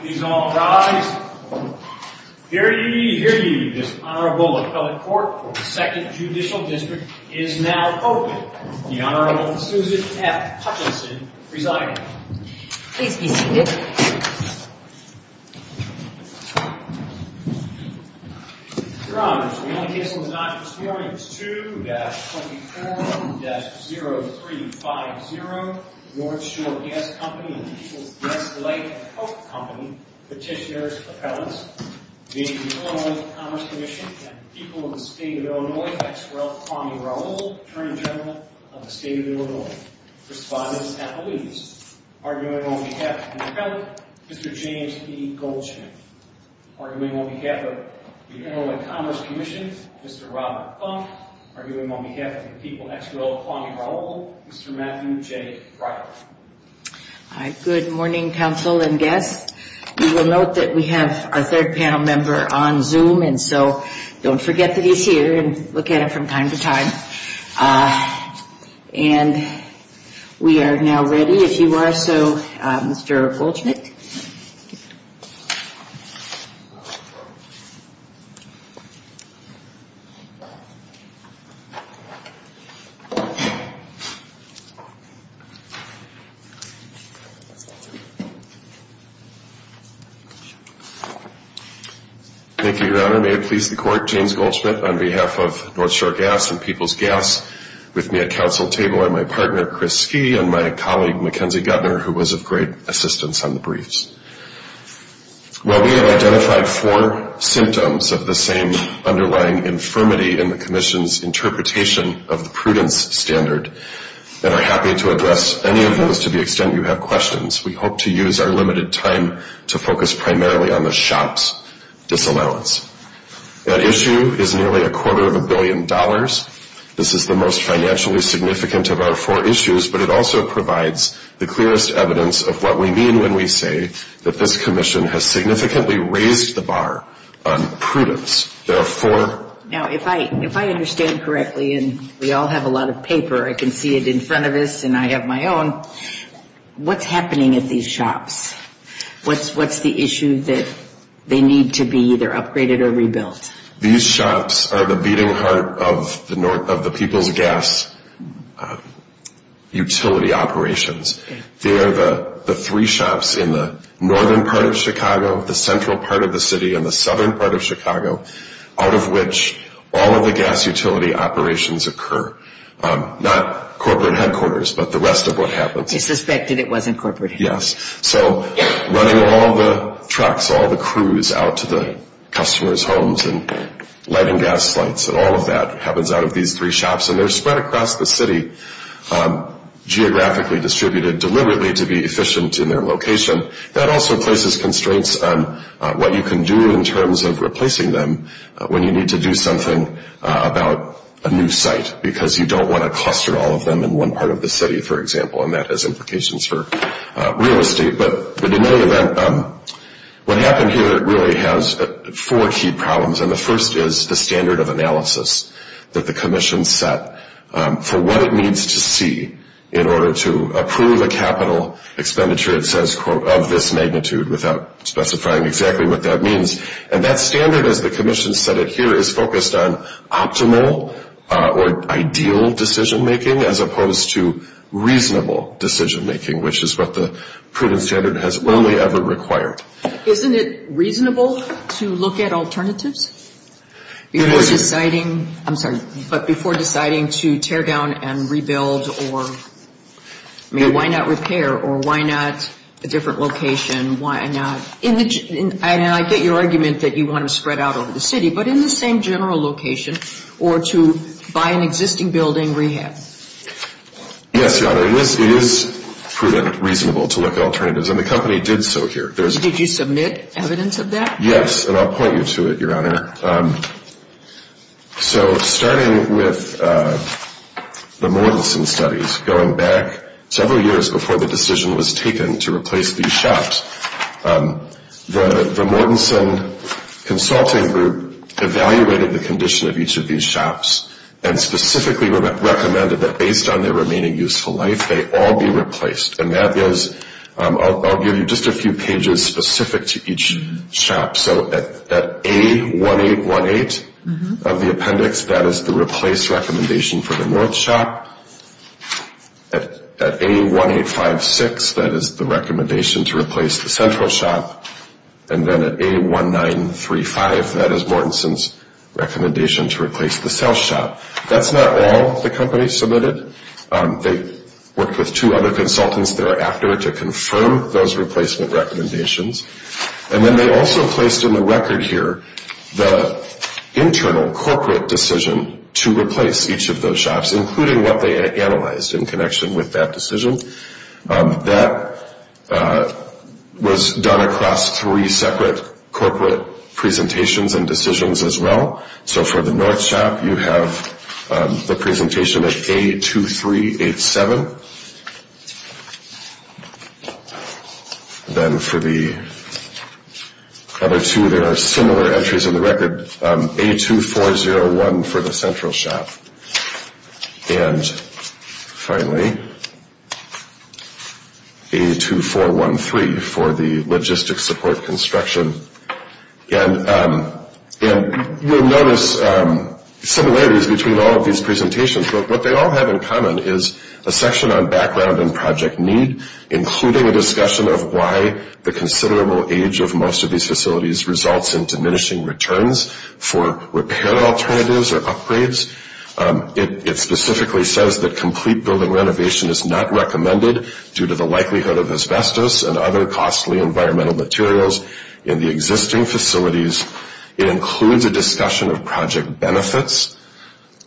Please all rise. Hear ye, hear ye. This honorable appellate court for the 2nd Judicial District is now open. The Honorable Susan F. Hutchinson presiding. Please be seated. Your honors, we have a case of non-performance 2-24-0350, North Shore Gas Company and the People's Gas, Light, and Health Company petitioner's appellants, the Illinois Commerce Commission and the people of the state of Illinois, Ex Rel. Kwame Raoul, Attorney General of the state of Illinois. Respondents and police. Arguing on behalf of the appellant, Mr. James E. Goldschmidt. Arguing on behalf of the Illinois Commerce Commission, Mr. Robert Funk. Arguing on behalf of the people, Ex Rel. Kwame Raoul, Mr. Matthew J. Pryor. Good morning, counsel and guests. You will note that we have our third panel member on Zoom. And so don't forget that he's here and look at it from time to time. And we are now ready if you are. So Mr. Goldschmidt. Thank you, your honor. May it please the court. James Goldschmidt on behalf of North Shore Gas and People's Gas. With me at council table are my partner, Chris Skea, and my colleague, Mackenzie Guttner, who was of great assistance on the briefs. Well, we have identified four symptoms of the same underlying infirmity in the commission's interpretation of the prudence standard. The first is that the appellant's and are happy to address any of those to the extent you have questions. We hope to use our limited time to focus primarily on the shop's disallowance. That issue is nearly a quarter of a billion dollars. This is the most financially significant of our four issues, but it also provides the clearest evidence of what we mean when we say that this commission has significantly raised the bar on prudence. There are four. Now, if I understand correctly, and we all have a lot of paper, I can see it in front of us, and I have my own. What's happening at these shops? What's the issue that they need to be either upgraded or rebuilt? These shops are the beating heart of the People's Gas utility operations. They are the three shops in the northern part of Chicago, the central part of the city, and the southern part of Chicago, out of which all of the gas utility operations occur. Not corporate headquarters, but the rest of what happens. They suspected it wasn't corporate headquarters. Yes. So running all the trucks, all the crews, out to the customers' homes and lighting gas lights and all of that happens out of these three shops. And they're spread across the city, geographically distributed deliberately to be efficient in their location. That also places constraints on what you can do in terms of replacing them when you need to do something about a new site, because you don't want to cluster all of them in one part of the city, for example. And that has implications for real estate. But in any event, what happened here really has four key problems. And the first is the standard of analysis that the commission set for what it needs to see in order to approve a capital expenditure, it says, quote, of this magnitude without specifying exactly what that means. And that standard, as the commission set it here, is focused on optimal or ideal decision-making as opposed to reasonable decision-making, which is what the prudent standard has only ever required. Isn't it reasonable to look at alternatives but before deciding to tear down and rebuild or, I mean, why not repair? Or why not a different location? Why not? And I get your argument that you want to spread out over the city, but in the same general location or to buy an existing building, rehab. Yes, Your Honor, it is prudent, reasonable to look at alternatives. And the company did so here. Did you submit evidence of that? Yes, and I'll point you to it, Your Honor. So starting with the Moraleson studies, going back several years before the decision was taken to replace these shops, the Mortenson Consulting Group evaluated the condition of each of these shops and specifically recommended that based on their remaining useful life, they all be replaced. And that is, I'll give you just a few pages specific to each shop. So at A1818 of the appendix, that is the replace recommendation for the North shop. At A1856, that is the recommendation to replace the Central shop. And then at A1935, that is Mortenson's recommendation to replace the South shop. That's not all the company submitted. They worked with two other consultants thereafter to confirm those replacement recommendations. And then they also placed in the record here the internal corporate decision to replace each of those shops, including what they analyzed in connection with that decision. That was done across three separate corporate presentations and decisions as well. So for the North shop, you have the presentation at A2387. Then for the other two, there are similar entries in the record, A2401 for the Central shop. And finally, A2413 for the logistics support construction. And you'll notice similarities between all of these presentations. But what they all have in common is a section on background and project need, including a discussion of why the considerable age of most of these facilities results in diminishing returns for repair alternatives or upgrades. It specifically says that complete building renovation is not recommended due to the likelihood of asbestos and other costly environmental materials in the existing facilities. It includes a discussion of project benefits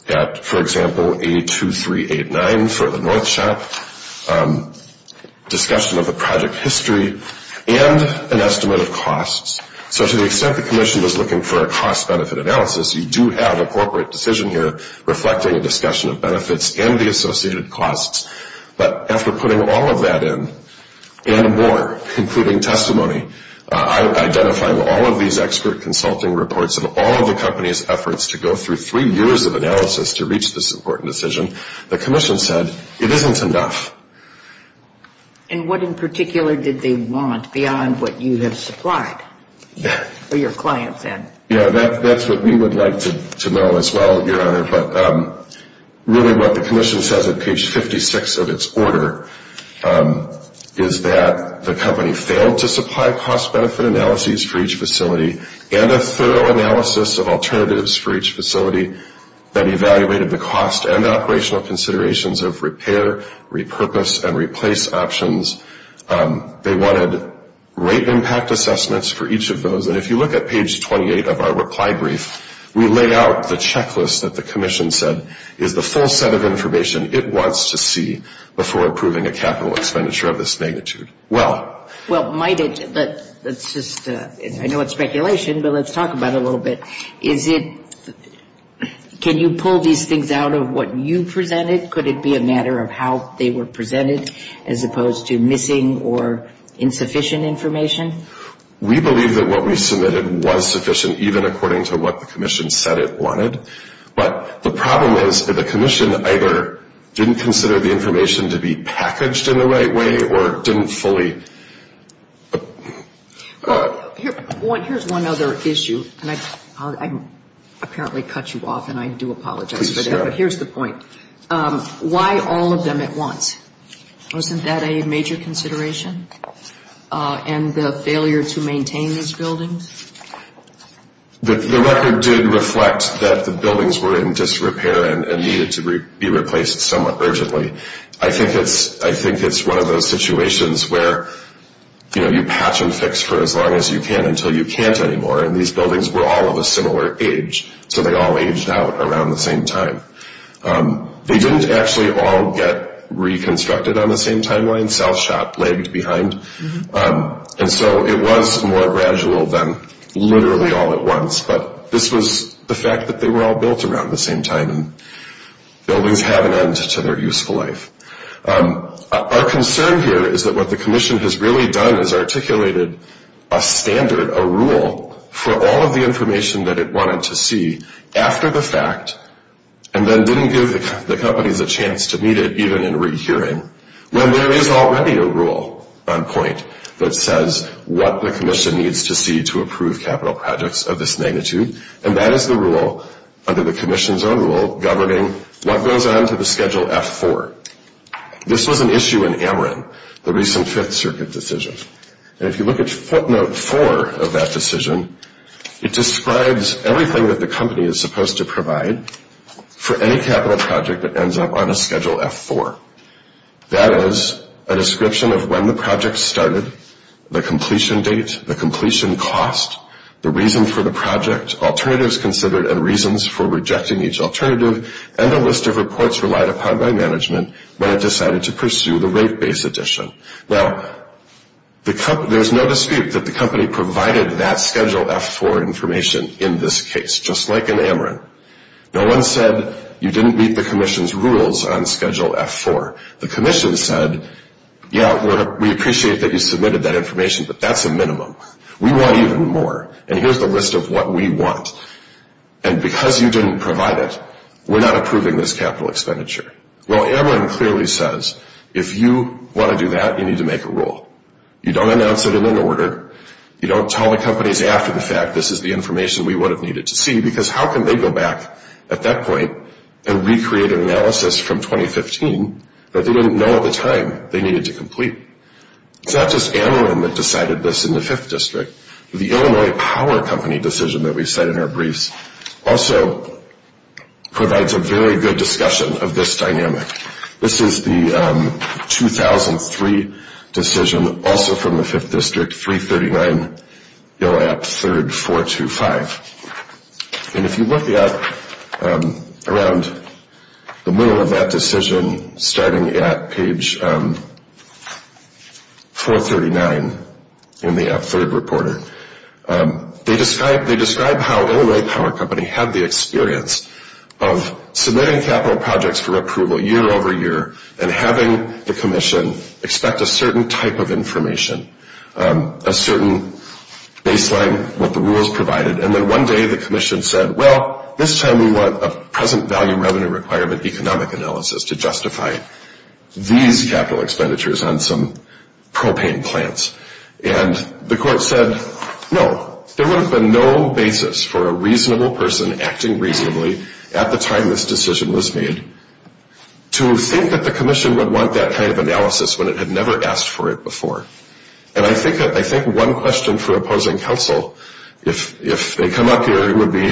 at, for example, A2389 for the North shop, discussion of the project history, and an estimate of costs. So to the extent the commission was looking for a cost-benefit analysis, you do have a corporate decision here reflecting a discussion of benefits and the associated costs. But after putting all of that in and more, including testimony, identifying all of these expert consulting reports of all of the company's efforts to go through three years of analysis to reach this important decision, the commission said, it isn't enough. And what in particular did they want beyond what you have supplied for your clients, then? Yeah, that's what we would like to know as well, Your Honor. But really what the commission says at page 56 of its order is that the company failed to supply cost-benefit analyses for each facility and a thorough analysis of alternatives for each facility that evaluated the cost and operational considerations of repair, repurpose, and replace options. They wanted rate impact assessments for each of those. And if you look at page 28 of our reply brief, we lay out the checklist that the commission said is the full set of information it wants to see before approving a capital expenditure of this magnitude. Well, might it, but that's just, I know it's speculation, but let's talk about it a little bit. Is it, can you pull these things out of what you presented? Could it be a matter of how they were presented as opposed to missing or insufficient information? We believe that what we submitted was sufficient, even according to what the commission said it wanted. But the problem is that the commission either didn't consider the information to be packaged in the right way or didn't fully. Here's one other issue. And I apparently cut you off, and I do apologize for that. But here's the point. Why all of them at once? Wasn't that a major consideration? And the failure to maintain these buildings? The record did reflect that the buildings were in disrepair and needed to be replaced somewhat urgently. I think it's one of those situations where, you know, you patch and fix for as long as you can until you can't anymore. And these buildings were all of a similar age. So they all aged out around the same time. They didn't actually all get reconstructed on the same timeline. South shop lagged behind. And so it was more gradual than literally all at once. But this was the fact that they were all built around the same time and buildings have an end to their useful life. Our concern here is that what the commission has really done is articulated a standard, a rule for all of the information that it wanted to see after the fact, and then didn't give the companies a chance to meet it even in rehearing when there is already a rule on point that says what the commission needs to see to approve capital projects of this magnitude. And that is the rule under the commission's own rule governing what goes on to the schedule F4. This was an issue in Amarin, the recent fifth circuit decision. And if you look at footnote four of that decision, it describes everything that the company is supposed to provide for any capital project that ends up on a schedule F4. That is a description of when the project started, the completion date, the completion cost, the reason for the project, alternatives considered and reasons for rejecting each alternative, and a list of reports relied upon by management when it decided to pursue the rate base addition. Now, there's no dispute that the company provided that schedule F4 information in this case, just like in Amarin. No one said you didn't meet the commission's rules on schedule F4. The commission said, yeah, we appreciate that you submitted that information, but that's a minimum. We want even more. And here's the list of what we want. And because you didn't provide it, we're not approving this capital expenditure. Well, Amarin clearly says, if you want to do that, you need to make a rule. You don't announce it in an order. You don't tell the companies after the fact this is the information we would have needed to see because how can they go back at that point and recreate an analysis from 2015 that they didn't know at the time they needed to complete? It's not just Amarin that decided this in the fifth district. The Illinois Power Company decision that we said in our briefs also provides a very good discussion of this dynamic. This is the 2003 decision, also from the fifth district, 339, ILL-APP-3RD-425. And if you look at around the middle of that decision, starting at page 439 in the APP-3RD Reporter, they describe how Illinois Power Company had the experience of submitting capital projects for approval year over year and having the commission expect a certain type of information, a certain baseline with the rules provided. And then one day the commission said, well, this time we want a present value revenue requirement economic analysis to justify these capital expenditures on some propane plants. And the court said, no, there would have been no basis for a reasonable person acting reasonably at the time this decision was made to think that the commission would want that kind of analysis when it had never asked for it before. And I think one question for opposing counsel, if they come up here, it would be,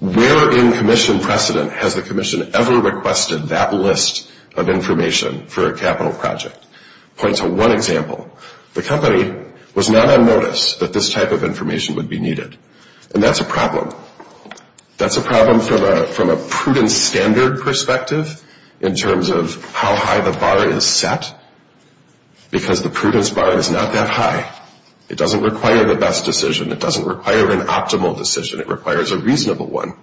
where in commission precedent has the commission ever requested that list of information for a capital project? Point to one example. The company was not on notice that this type of information would be needed. And that's a problem. That's a problem from a prudent standard perspective in terms of how high the bar is set. Because the prudence bar is not that high. It doesn't require the best decision. It doesn't require an optimal decision. It requires a reasonable one.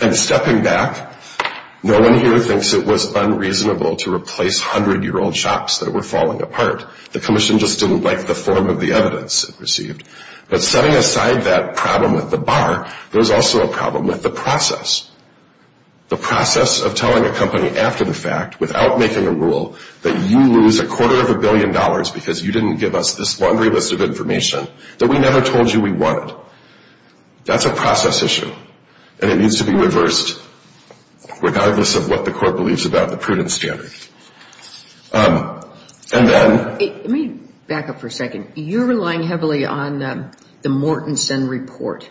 And stepping back, no one here thinks it was unreasonable to replace hundred-year-old shops that were falling apart. The commission just didn't like the form of the evidence it received. But setting aside that problem with the bar, there's also a problem with the process. The process of telling a company after the fact without making a rule that you lose a quarter of a billion dollars because you didn't give us this laundry list of information that we never told you we wanted. That's a process issue. And it needs to be reversed regardless of what the court believes about the prudent standard. And then- Let me back up for a second. You're relying heavily on the Mortensen report.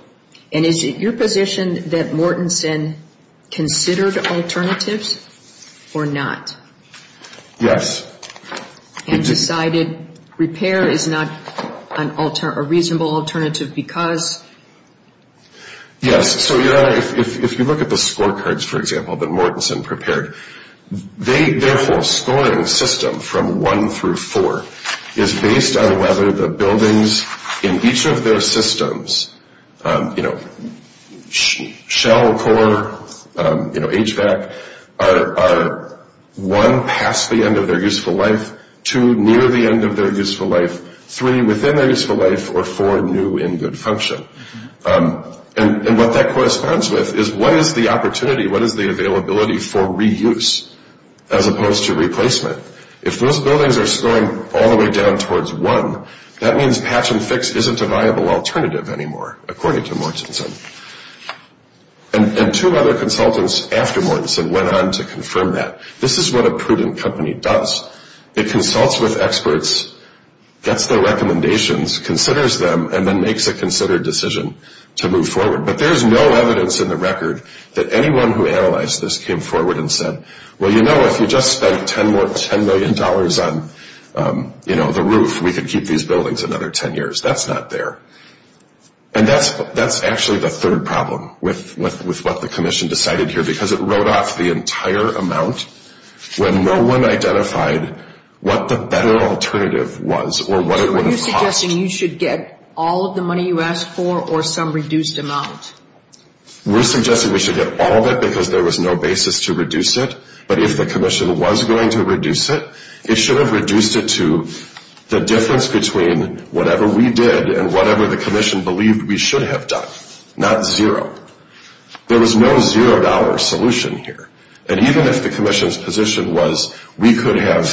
And is it your position that Mortensen considered alternatives or not? Yes. And decided repair is not a reasonable alternative because? Yes, so if you look at the scorecards, for example, that Mortensen prepared, their whole scoring system from one through four is based on whether the buildings in each of their systems, Shell, Core, HVAC, are one, past the end of their useful life, two, near the end of their useful life, three, within their useful life, or four, new in good function. And what that corresponds with is what is the opportunity, what is the availability for reuse as opposed to replacement? If those buildings are scoring all the way down towards one, that means patch and fix isn't a viable alternative anymore according to Mortensen. And two other consultants after Mortensen went on to confirm that. This is what a prudent company does. It consults with experts, gets their recommendations, considers them, and then makes a considered decision to move forward. But there's no evidence in the record that anyone who analyzed this came forward and said, well, you know, if you just spent 10 more, $10 million on the roof, we could keep these buildings another 10 years. That's not there. And that's actually the third problem with what the commission decided here because it wrote off the entire amount when no one identified what the better alternative was or what it would have cost. So are you suggesting you should get all of the money you asked for or some reduced amount? We're suggesting we should get all of it because there was no basis to reduce it. But if the commission was going to reduce it, it should have reduced it to the difference between whatever we did and whatever the commission believed we should have done, not zero. There was no $0 solution here. And even if the commission's position was we could have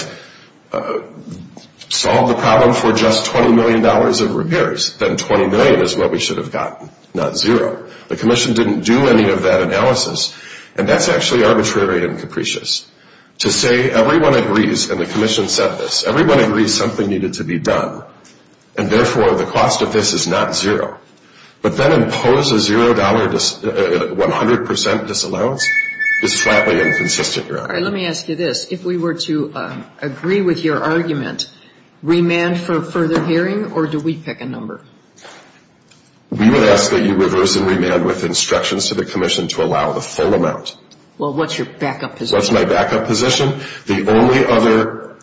solved the problem for just $20 million of repairs, then 20 million is what we should have gotten, not zero. The commission didn't do any of that analysis. And that's actually arbitrary and capricious. To say everyone agrees, and the commission said this, everyone agrees something needed to be done. And therefore, the cost of this is not zero. But then impose a $0, 100% disallowance is flatly inconsistent, Your Honor. All right, let me ask you this. If we were to agree with your argument, remand for further hearing, or do we pick a number? We would ask that you reverse and remand with instructions to the commission to allow the full amount. Well, what's your backup position? What's my backup position? The only other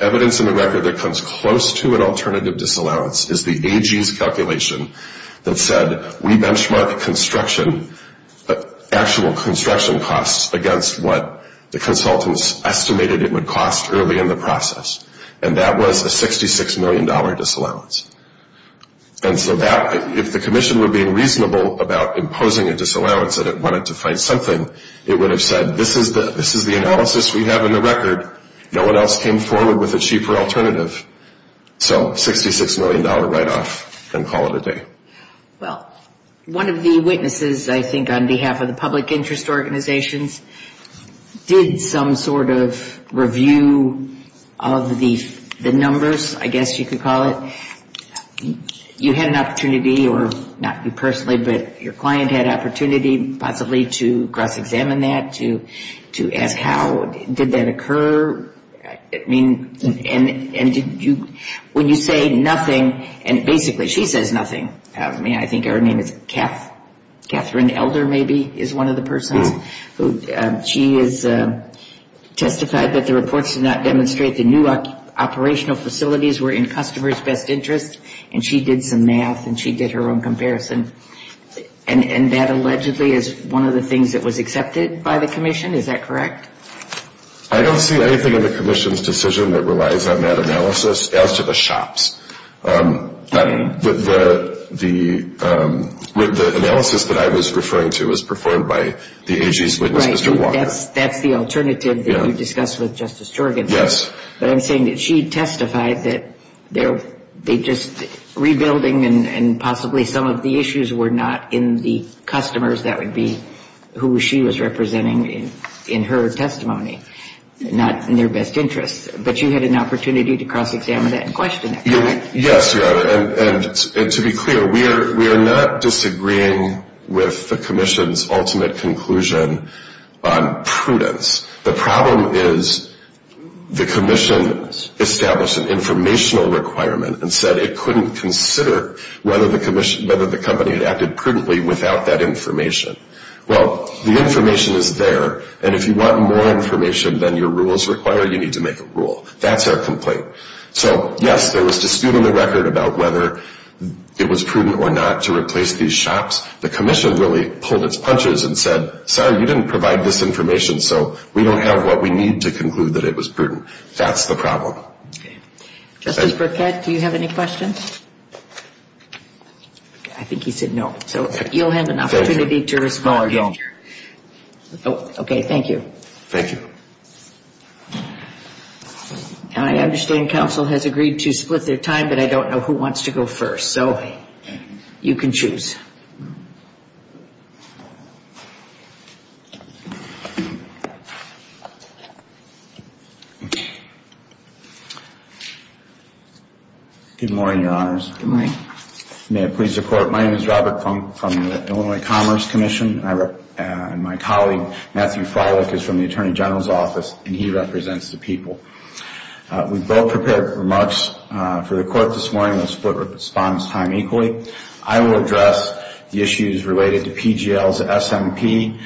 evidence in the record that comes close to an alternative disallowance is the AG's calculation that said we benchmark construction, actual construction costs against what the consultants estimated it would cost early in the process. And that was a $66 million disallowance. And so that, if the commission were being reasonable about imposing a disallowance and it wanted to find something, it would have said, this is the analysis we have in the record. No one else came forward with a cheaper alternative. So $66 million write off and call it a day. Well, one of the witnesses, I think, on behalf of the public interest organizations did some sort of review of the numbers, I guess you could call it. You had an opportunity, or not you personally, but your client had opportunity, possibly, to cross-examine that, to ask how did that occur. When you say nothing, and basically she says nothing. I think her name is Catherine Elder, maybe, is one of the persons. She has testified that the reports did not demonstrate the new operational facilities were in customer's best interest. And she did some math and she did her own comparison. And that allegedly is one of the things that was accepted by the commission, is that correct? I don't see anything in the commission's decision that relies on that analysis, as to the shops. The analysis that I was referring to was performed by the AG's witness, Mr. Walker. That's the alternative that you discussed with Justice Jorgensen. But I'm saying that she testified that they just, rebuilding and possibly some of the issues were not in the customers. That would be who she was representing in her testimony. Not in their best interest. But you had an opportunity to cross-examine that and question that, correct? Yes, Your Honor. And to be clear, we are not disagreeing with the commission's ultimate conclusion on prudence. The problem is the commission established an informational requirement and said it couldn't consider whether the company had acted prudently without that information. Well, the information is there. And if you want more information than your rules require, you need to make a rule. That's our complaint. So yes, there was dispute on the record about whether it was prudent or not to replace these shops. The commission really pulled its punches and said, sorry, you didn't provide this information so we don't have what we need to conclude that it was prudent. That's the problem. Justice Burkett, do you have any questions? I think he said no. So you'll have an opportunity to respond. OK, thank you. Thank you. And I understand counsel has agreed to split their time, but I don't know who wants to go first. So you can choose. Good morning, Your Honors. Good morning. May it please the Court, my name is Robert Funk from the Illinois Commerce Commission. And my colleague, Matthew Froelich, is from the Attorney General's Office, and he represents the people. We've both prepared remarks for the Court this morning. We'll split response time equally. I will address the issue of the dispute I will address the issues related to PGL's SMP,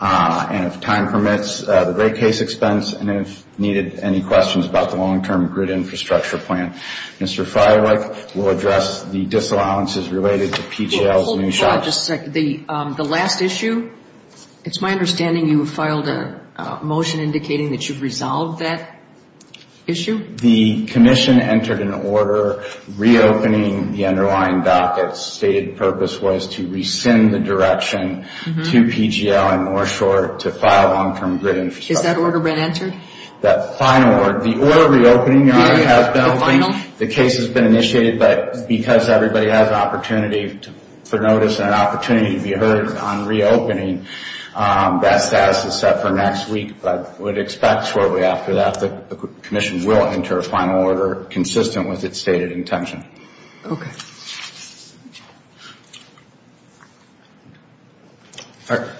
and if time permits, the great case expense, and if needed, any questions about the long-term grid infrastructure plan. Mr. Froelich will address the disallowances related to PGL's new shop. Hold on just a second. The last issue, it's my understanding you filed a motion indicating that you've resolved that issue? The commission entered an order reopening the underlying docket's stated purpose was to rescind the direction to PGL and Moreshore to file long-term grid infrastructure. Has that order been answered? That final order, the order reopening, Your Honor, has been opened. The final? The case has been initiated, but because everybody has an opportunity for notice and an opportunity to be heard on reopening, that status is set for next week. But I would expect shortly after that the commission will enter a final order consistent with its stated intention. Okay. A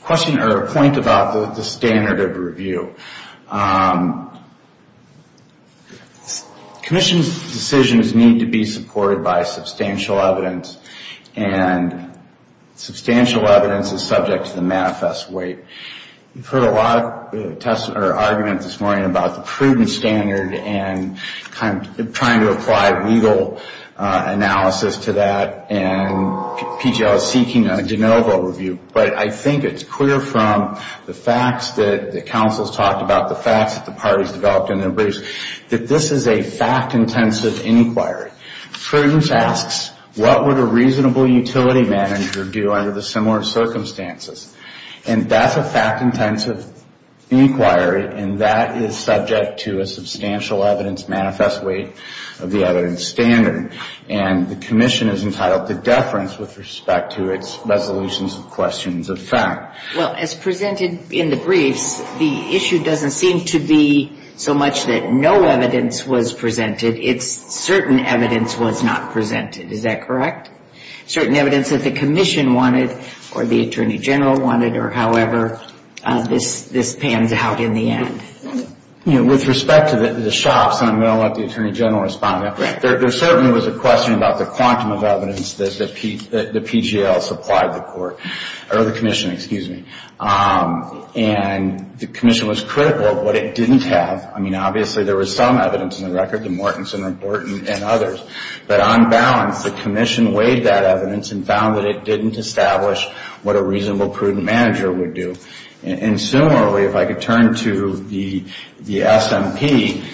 question or a point about the standard of review. Commission's decisions need to be supported by substantial evidence, and substantial evidence is subject to the manifest weight. We've heard a lot of argument this morning about the prudent standard and trying to apply legal analysis to that, and PGL is seeking a Genova review. But I think it's clear from the facts that the council's talked about, the facts that the parties developed in their briefs, that this is a fact-intensive inquiry. Prudence asks, what would a reasonable utility manager do under the similar circumstances? And that's a fact-intensive inquiry, and that is subject to a substantial evidence manifest weight of the evidence standard. And the commission is entitled to deference with respect to its resolutions of questions of fact. Well, as presented in the briefs, the issue doesn't seem to be so much that no evidence was presented, it's certain evidence was not presented. Is that correct? Certain evidence that the commission wanted or the attorney general wanted, or however, this pans out in the end. With respect to the shops, and I'm going to let the attorney general respond, there certainly was a question about the quantum of evidence that the PGL supplied the court, or the commission, excuse me. And the commission was critical of what it didn't have. I mean, obviously, there was some evidence in the record, the Mortensen Report and others, but on balance, the commission weighed that evidence and found that it didn't establish what a reasonable, prudent manager would do. And similarly, if I could turn to the SMP,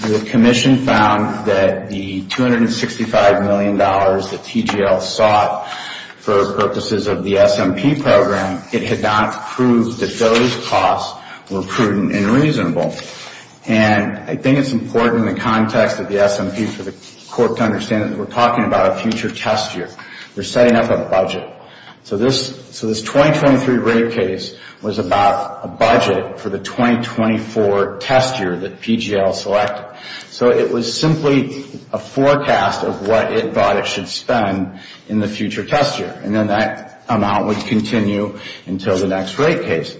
the commission found that the $265 million that TGL sought for purposes of the SMP program, it had not proved that those costs were prudent and reasonable. And I think it's important in the context of the SMP for the court to understand that we're talking about a future test year. We're setting up a budget. So this 2023 rate case was about a budget for the 2024 test year that PGL selected. So it was simply a forecast of what it thought it should spend in the future test year. And then that amount would continue until the next rate case.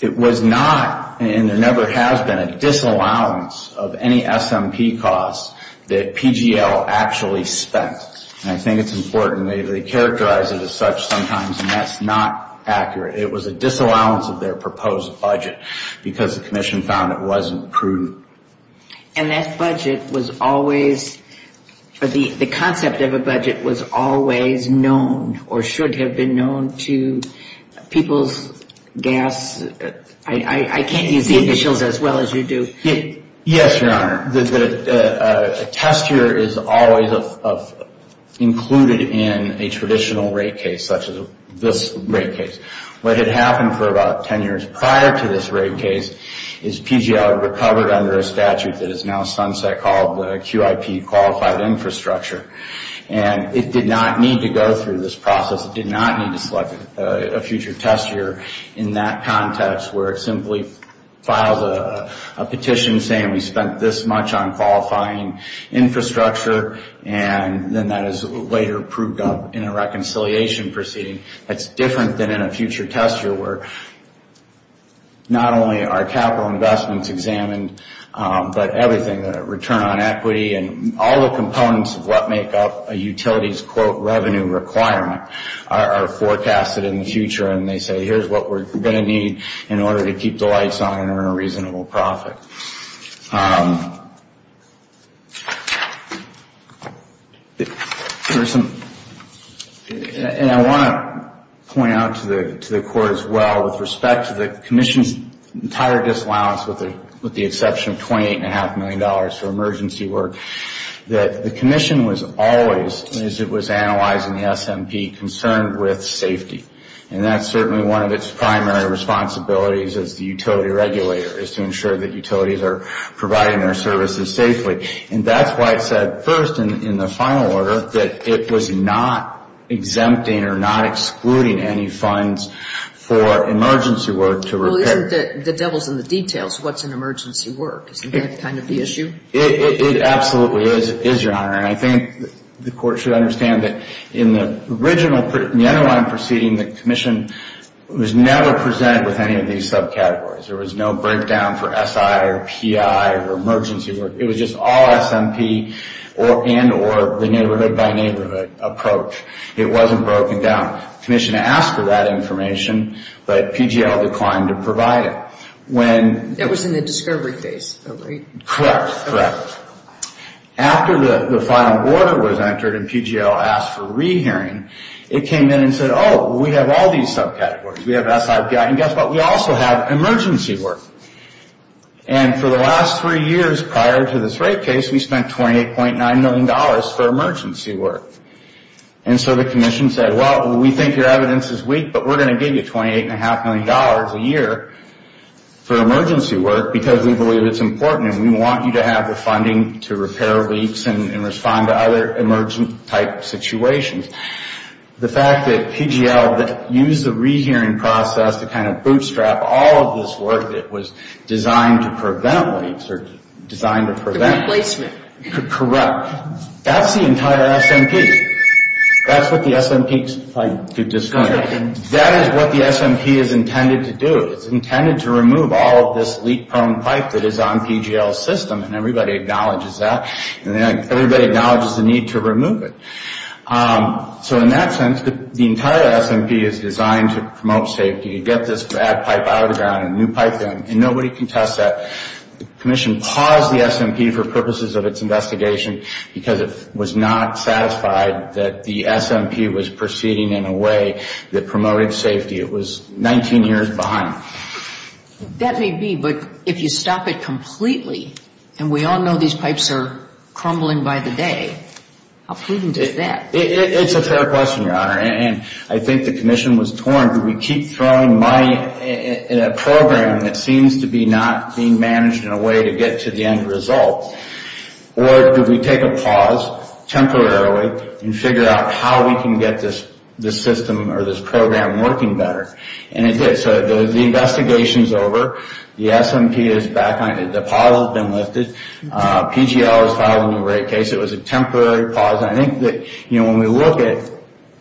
It was not, and there never has been, a disallowance of any SMP costs that PGL actually spent. And I think it's important. They characterize it as such sometimes, and that's not accurate. It was a disallowance of their proposed budget because the commission found it wasn't prudent. And that budget was always, the concept of a budget was always known or should have been known to people's gas, I can't use the initials as well as you do. Yes, Your Honor. A test year is always included in a traditional rate case such as this rate case. What had happened for about 10 years prior to this rate case is PGL recovered under a statute that is now sunset called the QIP Qualified Infrastructure. And it did not need to go through this process. It did not need to select a future test year in that context where it simply files a petition saying we spent this much on qualifying infrastructure, and then that is later approved up in a reconciliation proceeding. That's different than in a future test year where not only are capital investments examined, but everything, the return on equity, and all the components of what make up a utility's quote revenue requirement are forecasted in the future, and they say here's what we're going to need in order to keep the lights on and earn a reasonable profit. And I want to point out to the Court as well with respect to the Commission's entire disallowance with the exception of $28.5 million for emergency work, that the Commission was always, as it was analyzed in the SMP, concerned with safety. And that's certainly one of its primary responsibilities as the utility regulator, is to ensure that utilities are providing their services safely. And that's why it said first in the final order that it was not exempting or not excluding any funds for emergency work to repair. Well, isn't the devil's in the details what's in emergency work? Isn't that kind of the issue? It absolutely is, Your Honor. And I think the Court should understand that in the original, the underlying proceeding, the Commission was never presented with any of these subcategories. There was no breakdown for SI or PI or emergency work. It was just all SMP and or the neighborhood-by-neighborhood approach. It wasn't broken down. The Commission asked for that information, but PGL declined to provide it. That was in the discovery phase, though, right? Correct, correct. After the final order was entered and PGL asked for rehearing, it came in and said, oh, we have all these subcategories. We have SI, PI, and guess what? We also have emergency work. And for the last three years prior to this rape case, we spent $28.9 million for emergency work. And so the Commission said, well, we think your evidence is weak, but we're going to give you $28.5 million a year for emergency work because we believe it's important and we want you to have the funding to repair leaks and respond to other emergent-type situations. The fact that PGL used the rehearing process to kind of bootstrap all of this work that was designed to prevent leaks or designed to prevent... The replacement. Correct. That's the entire SMP. That's what the SMP is trying to discover. That is what the SMP is intended to do. It's intended to remove all of this leak-prone pipe that is on PGL's system, and everybody acknowledges that. And everybody acknowledges the need to remove it. So in that sense, the entire SMP is designed to promote safety. You get this bad pipe out of the ground, a new pipe in, and nobody can test that. The Commission paused the SMP for purposes of its investigation because it was not satisfied that the SMP was proceeding in a way that promoted safety. It was 19 years behind. That may be, but if you stop it completely, and we all know these pipes are crumbling by the day, how prudent is that? It's a fair question, Your Honor, and I think the Commission was torn. Do we keep throwing money in a program that seems to be not being managed in a way to get to the end result? Or do we take a pause temporarily and figure out how we can get this system or this program working better? And it did. So the investigation is over. The SMP is back on. The pause has been lifted. PGL has filed a new rate case. It was a temporary pause. I think that when we look at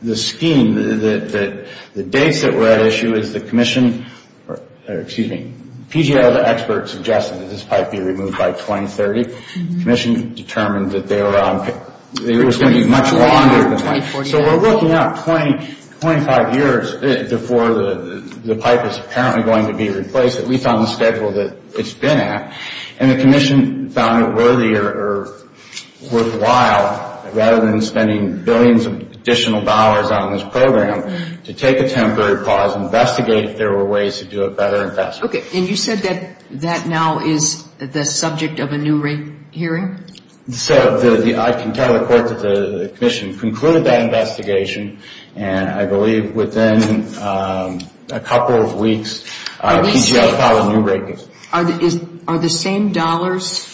the scheme, the dates that were at issue is the Commission, or excuse me, PGL, the expert, suggested that this pipe be removed by 2030. The Commission determined that it was going to be much longer. So we're looking at 25 years before the pipe is apparently going to be replaced, at least on the schedule that it's been at, and the Commission found it worthy or worthwhile, rather than spending billions of additional dollars on this program, to take a temporary pause, investigate if there were ways to do it better and faster. Okay, and you said that that now is the subject of a new rate hearing? So I can tell the Court that the Commission concluded that investigation, and I believe within a couple of weeks, PGL filed a new rate case. Are the same dollars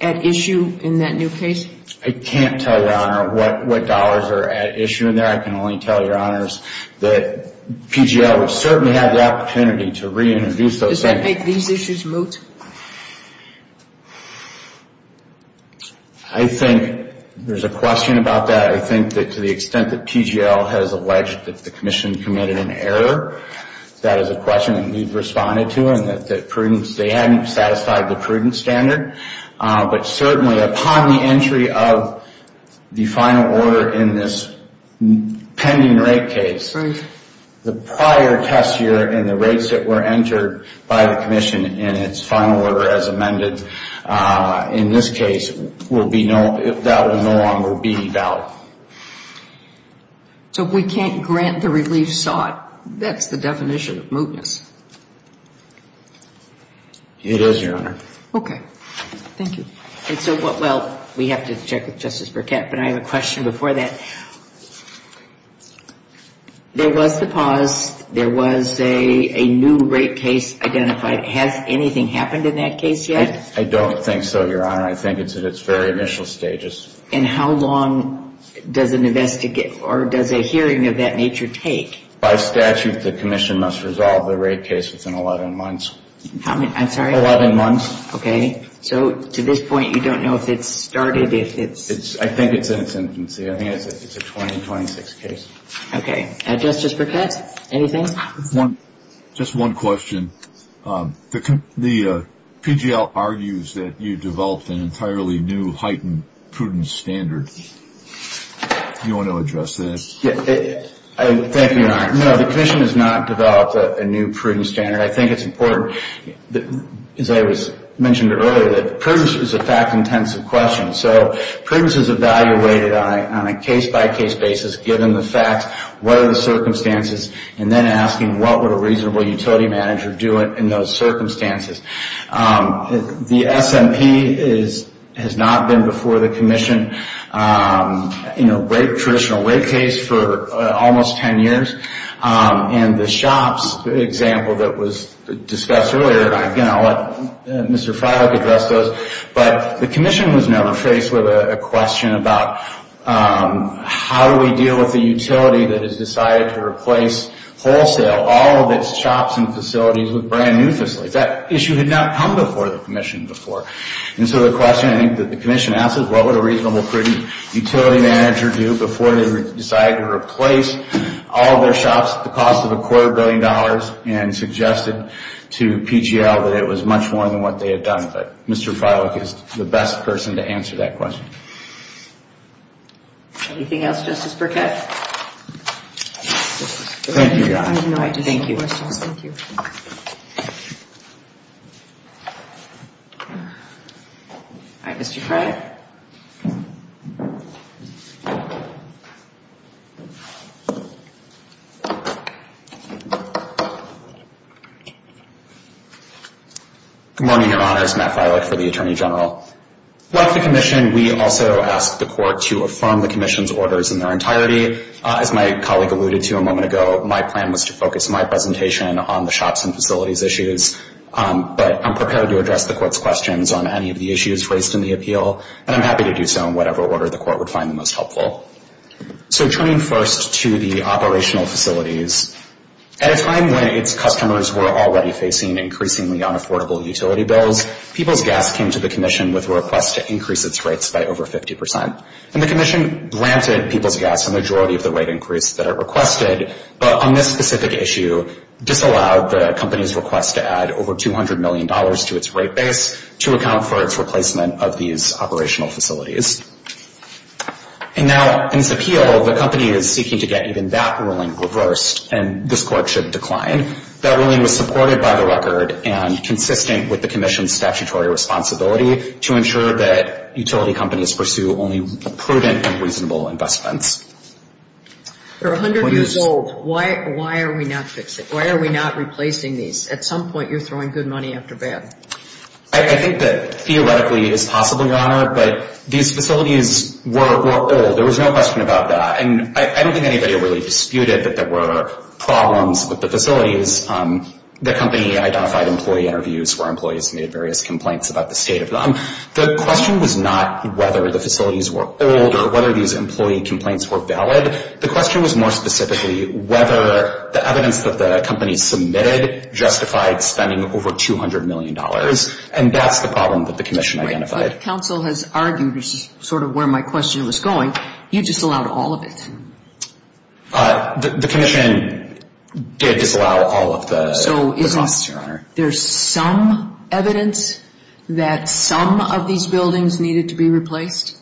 at issue in that new case? I can't tell you, Your Honor, what dollars are at issue in there. I can only tell you, Your Honors, that PGL certainly had the opportunity to reintroduce those same dollars. Does that make these issues moot? I think there's a question about that. I think that to the extent that PGL has alleged that the Commission committed an error, that is a question that we've responded to, and that they hadn't satisfied the prudent standard. But certainly upon the entry of the final order in this pending rate case, the prior test year and the rates that were entered by the Commission in its final order as amended, in this case, that will no longer be valid. So we can't grant the relief sought? That's the definition of mootness. It is, Your Honor. Okay, thank you. Well, we have to check with Justice Burkett, but I have a question before that. There was the pause. There was a new rate case identified. Has anything happened in that case yet? I don't think so, Your Honor. I think it's at its very initial stages. And how long does an investigation or does a hearing of that nature take? By statute, the Commission must resolve the rate case within 11 months. I'm sorry? Eleven months. Okay. So to this point, you don't know if it's started, if it's... I think it's in its infancy. I think it's a 2026 case. Okay. Justice Burkett, anything? Just one question. The PGL argues that you developed an entirely new heightened prudence standard. Do you want to address that? Thank you, Your Honor. No, the Commission has not developed a new prudence standard. I think it's important, as I mentioned earlier, that prudence is a fact-intensive question. So prudence is evaluated on a case-by-case basis, given the facts, what are the circumstances, and then asking what would a reasonable utility manager do in those circumstances. The SMP has not been before the Commission in a traditional rate case for almost 10 years. And the SHOPS example that was discussed earlier, and again, I'll let Mr. Fryhoek address those. But the Commission was never faced with a question about how do we deal with the utility that has decided to replace wholesale, all of its shops and facilities, with brand new facilities. That issue had not come before the Commission before. And so the question I think that the Commission asked is what would a reasonable prudence utility manager do before they decided to replace all of their shops at the cost of a quarter billion dollars and suggested to PGL that it was much more than what they had done. But Mr. Fryhoek is the best person to answer that question. Anything else, Justice Burkett? Thank you, Your Honor. Thank you. All right, Mr. Fryhoek. Good morning, Your Honors. Matt Fryhoek for the Attorney General. Like the Commission, we also asked the Court to affirm the Commission's orders in their entirety. As my colleague alluded to a moment ago, my plan was to focus my presentation on the SHOPS and facilities issues. But I'm prepared to address the Court's questions on any of the issues raised in the appeal. And I'm happy to do so in whatever order the Court would find the most helpful. So turning first to the operational facilities, at a time when its customers were already facing increasingly unaffordable utility bills, People's Gas came to the Commission with a request to increase its rates by over 50%. And the Commission granted People's Gas a majority of the rate increase that it requested, but on this specific issue disallowed the company's request to add over $200 million to its rate base to account for its replacement of these operational facilities. And now in this appeal, the company is seeking to get even that ruling reversed, and this Court should decline. That ruling was supported by the record and consistent with the Commission's statutory responsibility to ensure that utility companies pursue only prudent and reasonable investments. They're 100 years old. Why are we not replacing these? At some point you're throwing good money after bad. I think that theoretically it's possible, Your Honor, but these facilities were old. There was no question about that. And I don't think anybody really disputed that there were problems with the facilities. The company identified employee interviews where employees made various complaints about the state of them. The question was not whether the facilities were old or whether these employee complaints were valid. The question was more specifically whether the evidence that the company submitted justified spending over $200 million, and that's the problem that the Commission identified. But counsel has argued sort of where my question was going. You disallowed all of it. The Commission did disallow all of the costs, Your Honor. So is there some evidence that some of these buildings needed to be replaced?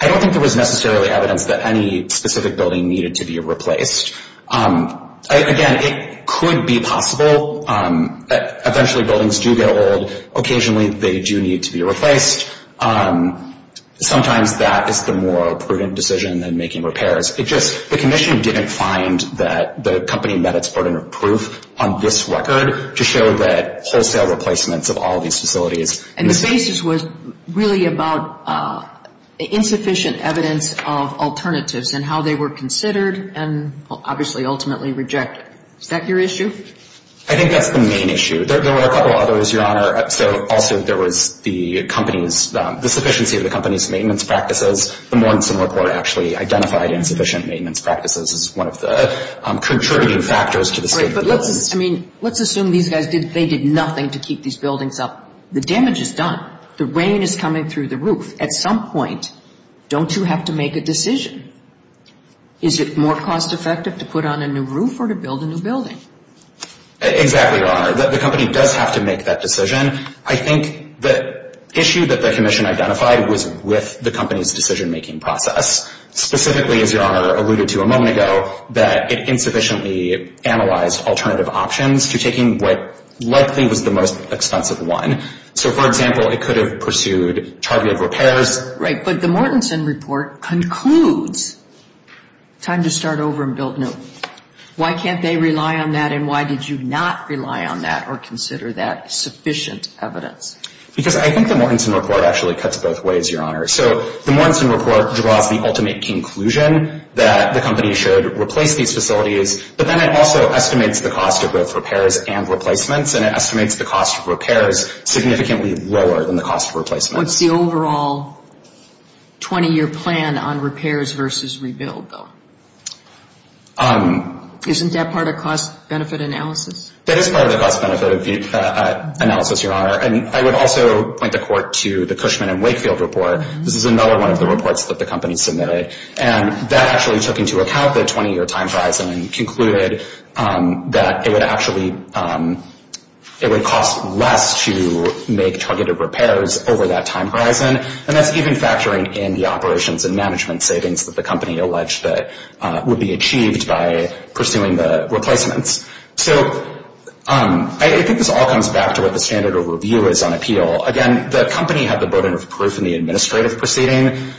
I don't think there was necessarily evidence that any specific building needed to be replaced. Again, it could be possible. Eventually buildings do get old. Occasionally they do need to be replaced. Sometimes that is the more prudent decision than making repairs. It's just the Commission didn't find that the company met its burden of proof on this record to show that wholesale replacements of all these facilities. And the basis was really about insufficient evidence of alternatives and how they were considered and obviously ultimately rejected. Is that your issue? I think that's the main issue. There were a couple others, Your Honor. Also there was the company's, the sufficiency of the company's maintenance practices. The Mortenson Report actually identified insufficient maintenance practices as one of the contributing factors to the state of the building. I mean, let's assume these guys, they did nothing to keep these buildings up. The damage is done. The rain is coming through the roof. At some point, don't you have to make a decision? Is it more cost effective to put on a new roof or to build a new building? Exactly, Your Honor. The company does have to make that decision. I think the issue that the Commission identified was with the company's decision-making process, specifically, as Your Honor alluded to a moment ago, that it insufficiently analyzed alternative options to taking what likely was the most expensive one. So, for example, it could have pursued targeted repairs. Right. But the Mortenson Report concludes time to start over and build new. Why can't they rely on that and why did you not rely on that or consider that sufficient evidence? Because I think the Mortenson Report actually cuts both ways, Your Honor. So the Mortenson Report draws the ultimate conclusion that the company should replace these facilities, but then it also estimates the cost of both repairs and replacements, and it estimates the cost of repairs significantly lower than the cost of replacement. What's the overall 20-year plan on repairs versus rebuild, though? Isn't that part of cost-benefit analysis? That is part of the cost-benefit analysis, Your Honor. I would also point the Court to the Cushman and Wakefield Report. This is another one of the reports that the company submitted, and that actually took into account the 20-year time horizon and concluded that it would actually cost less to make targeted repairs over that time horizon, and that's even factoring in the operations and management savings that the company alleged that would be achieved by pursuing the replacements. So I think this all comes back to what the standard of review is on appeal. Again, the company had the burden of proof in the administrative proceeding.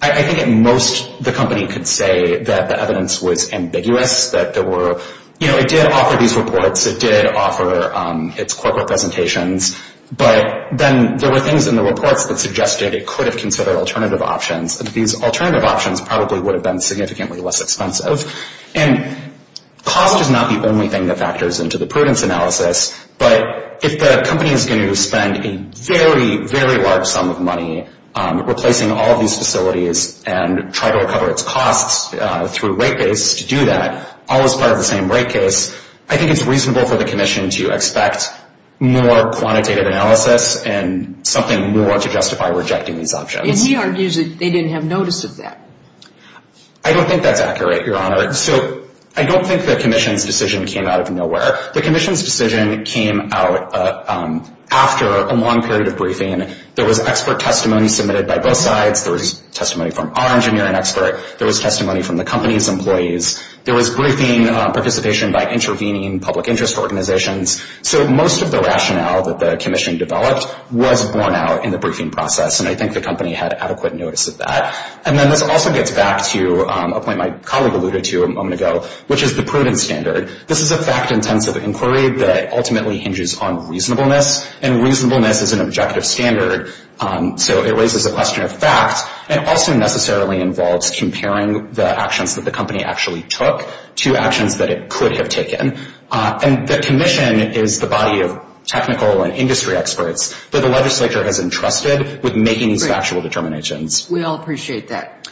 I think at most the company could say that the evidence was ambiguous, that there were, you know, it did offer these reports, it did offer its corporate presentations, but then there were things in the reports that suggested it could have considered alternative options. These alternative options probably would have been significantly less expensive. And cost is not the only thing that factors into the prudence analysis, but if the company is going to spend a very, very large sum of money replacing all of these facilities and try to recover its costs through rate base to do that, all as part of the same rate case, I think it's reasonable for the Commission to expect more quantitative analysis and something more to justify rejecting these options. And he argues that they didn't have notice of that. I don't think that's accurate, Your Honor. So I don't think the Commission's decision came out of nowhere. The Commission's decision came out after a long period of briefing. There was expert testimony submitted by both sides. There was testimony from our engineering expert. There was testimony from the company's employees. There was briefing participation by intervening public interest organizations. So most of the rationale that the Commission developed was borne out in the briefing process, and I think the company had adequate notice of that. And then this also gets back to a point my colleague alluded to a moment ago, which is the prudence standard. This is a fact-intensive inquiry that ultimately hinges on reasonableness, and reasonableness is an objective standard, so it raises a question of fact and also necessarily involves comparing the actions that the company actually took to actions that it could have taken. And the Commission is the body of technical and industry experts that the legislature has entrusted with making these factual determinations. We all appreciate that.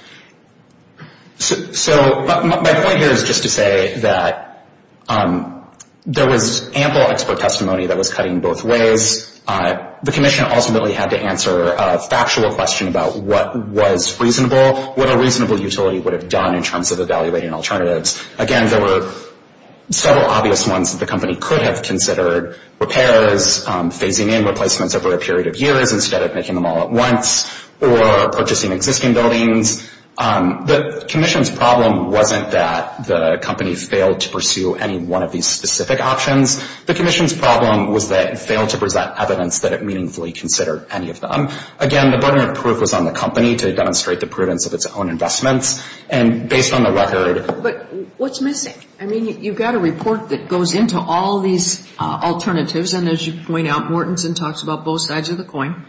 So my point here is just to say that there was ample expert testimony that was cutting both ways. The Commission ultimately had to answer a factual question about what was reasonable, what a reasonable utility would have done in terms of evaluating alternatives. Again, there were several obvious ones that the company could have considered, repairs, phasing in replacements over a period of years instead of making them all at once, or purchasing existing buildings. The Commission's problem wasn't that the company failed to pursue any one of these specific options. The Commission's problem was that it failed to present evidence that it meaningfully considered any of them. Again, the burden of proof was on the company to demonstrate the prudence of its own investments, and based on the record. But what's missing? I mean, you've got a report that goes into all these alternatives, and as you point out, Mortensen talks about both sides of the coin.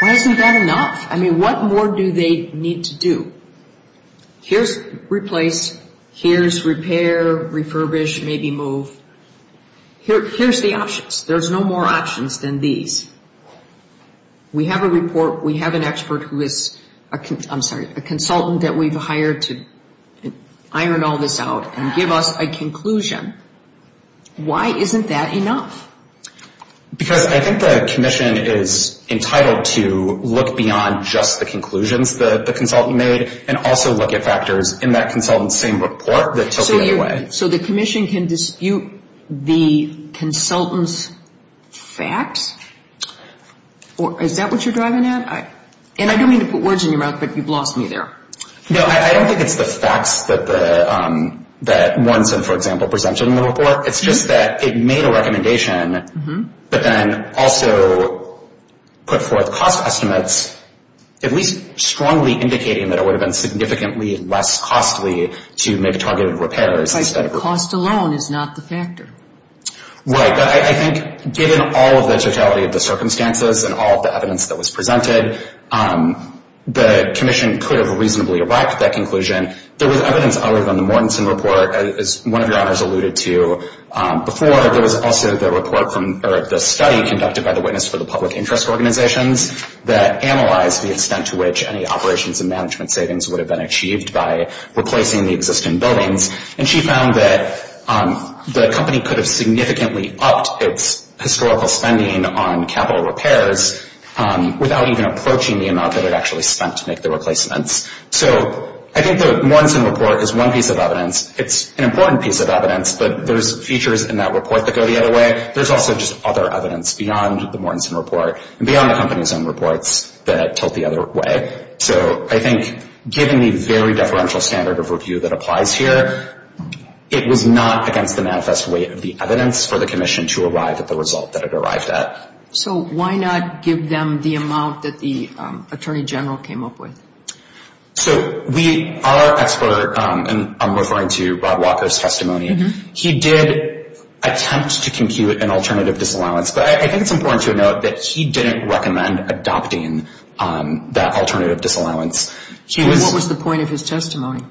Why isn't that enough? I mean, what more do they need to do? Here's replace, here's repair, refurbish, maybe move. Here's the options. There's no more options than these. We have a report. We have an expert who is a consultant that we've hired to iron all this out and give us a conclusion. Why isn't that enough? Because I think the Commission is entitled to look beyond just the conclusions the consultant made and also look at factors in that consultant's same report that tilt them in a way. So the Commission can dispute the consultant's facts? Is that what you're driving at? And I don't mean to put words in your mouth, but you've lost me there. No, I don't think it's the facts that Mortensen, for example, presented in the report. It's just that it made a recommendation, but then also put forth cost estimates, at least strongly indicating that it would have been significantly less costly to make targeted repairs. Cost alone is not the factor. Right, but I think given all of the totality of the circumstances and all of the evidence that was presented, the Commission could have reasonably erected that conclusion. There was evidence other than the Mortensen report, as one of your honors alluded to before. There was also the study conducted by the Witness for the Public Interest Organizations that analyzed the extent to which any operations and management savings would have been achieved by replacing the existing buildings. And she found that the company could have significantly upped its historical spending on capital repairs without even approaching the amount that it actually spent to make the replacements. So I think the Mortensen report is one piece of evidence. It's an important piece of evidence, but there's features in that report that go the other way. There's also just other evidence beyond the Mortensen report and beyond the company's own reports that tilt the other way. So I think given the very deferential standard of review that applies here, it was not against the manifest weight of the evidence for the Commission to arrive at the result that it arrived at. So why not give them the amount that the Attorney General came up with? So our expert, and I'm referring to Rob Walker's testimony, he did attempt to compute an alternative disallowance, but I think it's important to note that he didn't recommend adopting that alternative disallowance. What was the point of his testimony?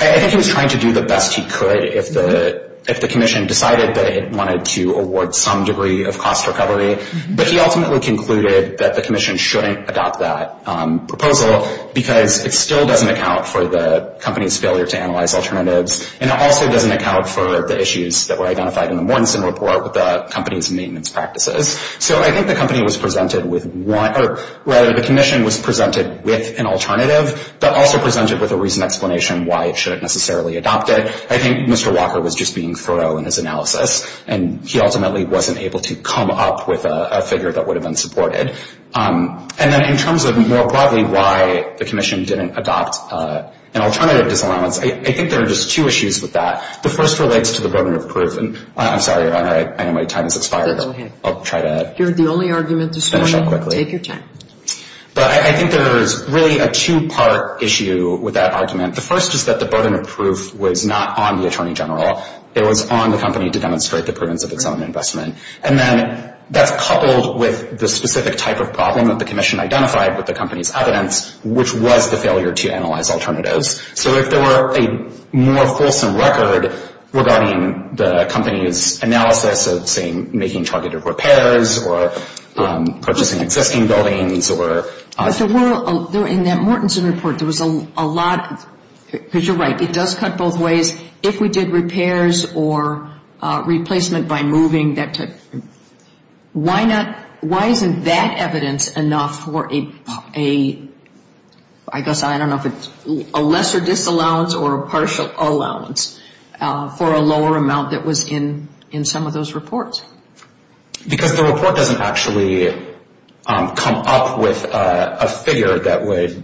I think he was trying to do the best he could. If the Commission decided that it wanted to award some degree of cost recovery, but he ultimately concluded that the Commission shouldn't adopt that proposal because it still doesn't account for the company's failure to analyze alternatives and it also doesn't account for the issues that were identified in the Mortensen report with the company's maintenance practices. So I think the Commission was presented with an alternative, but also presented with a reason and explanation why it shouldn't necessarily adopt it. I think Mr. Walker was just being thorough in his analysis and he ultimately wasn't able to come up with a figure that would have been supported. And then in terms of more broadly why the Commission didn't adopt an alternative disallowance, I think there are just two issues with that. The first relates to the burden of proof, and I'm sorry, Your Honor, I know my time has expired. I'll try to finish up quickly. But I think there is really a two-part issue with that argument. The first is that the burden of proof was not on the Attorney General. It was on the company to demonstrate the prudence of its own investment. And then that's coupled with the specific type of problem that the Commission identified with the company's evidence, which was the failure to analyze alternatives. So if there were a more fulsome record regarding the company's analysis of, say, making targeted repairs or purchasing existing buildings or... But there were, in that Mortenson report, there was a lot, because you're right, it does cut both ways if we did repairs or replacement by moving that type. Why isn't that evidence enough for a, I guess, I don't know if it's a lesser disallowance or a partial allowance for a lower amount that was in some of those reports? Because the report doesn't actually come up with a figure that would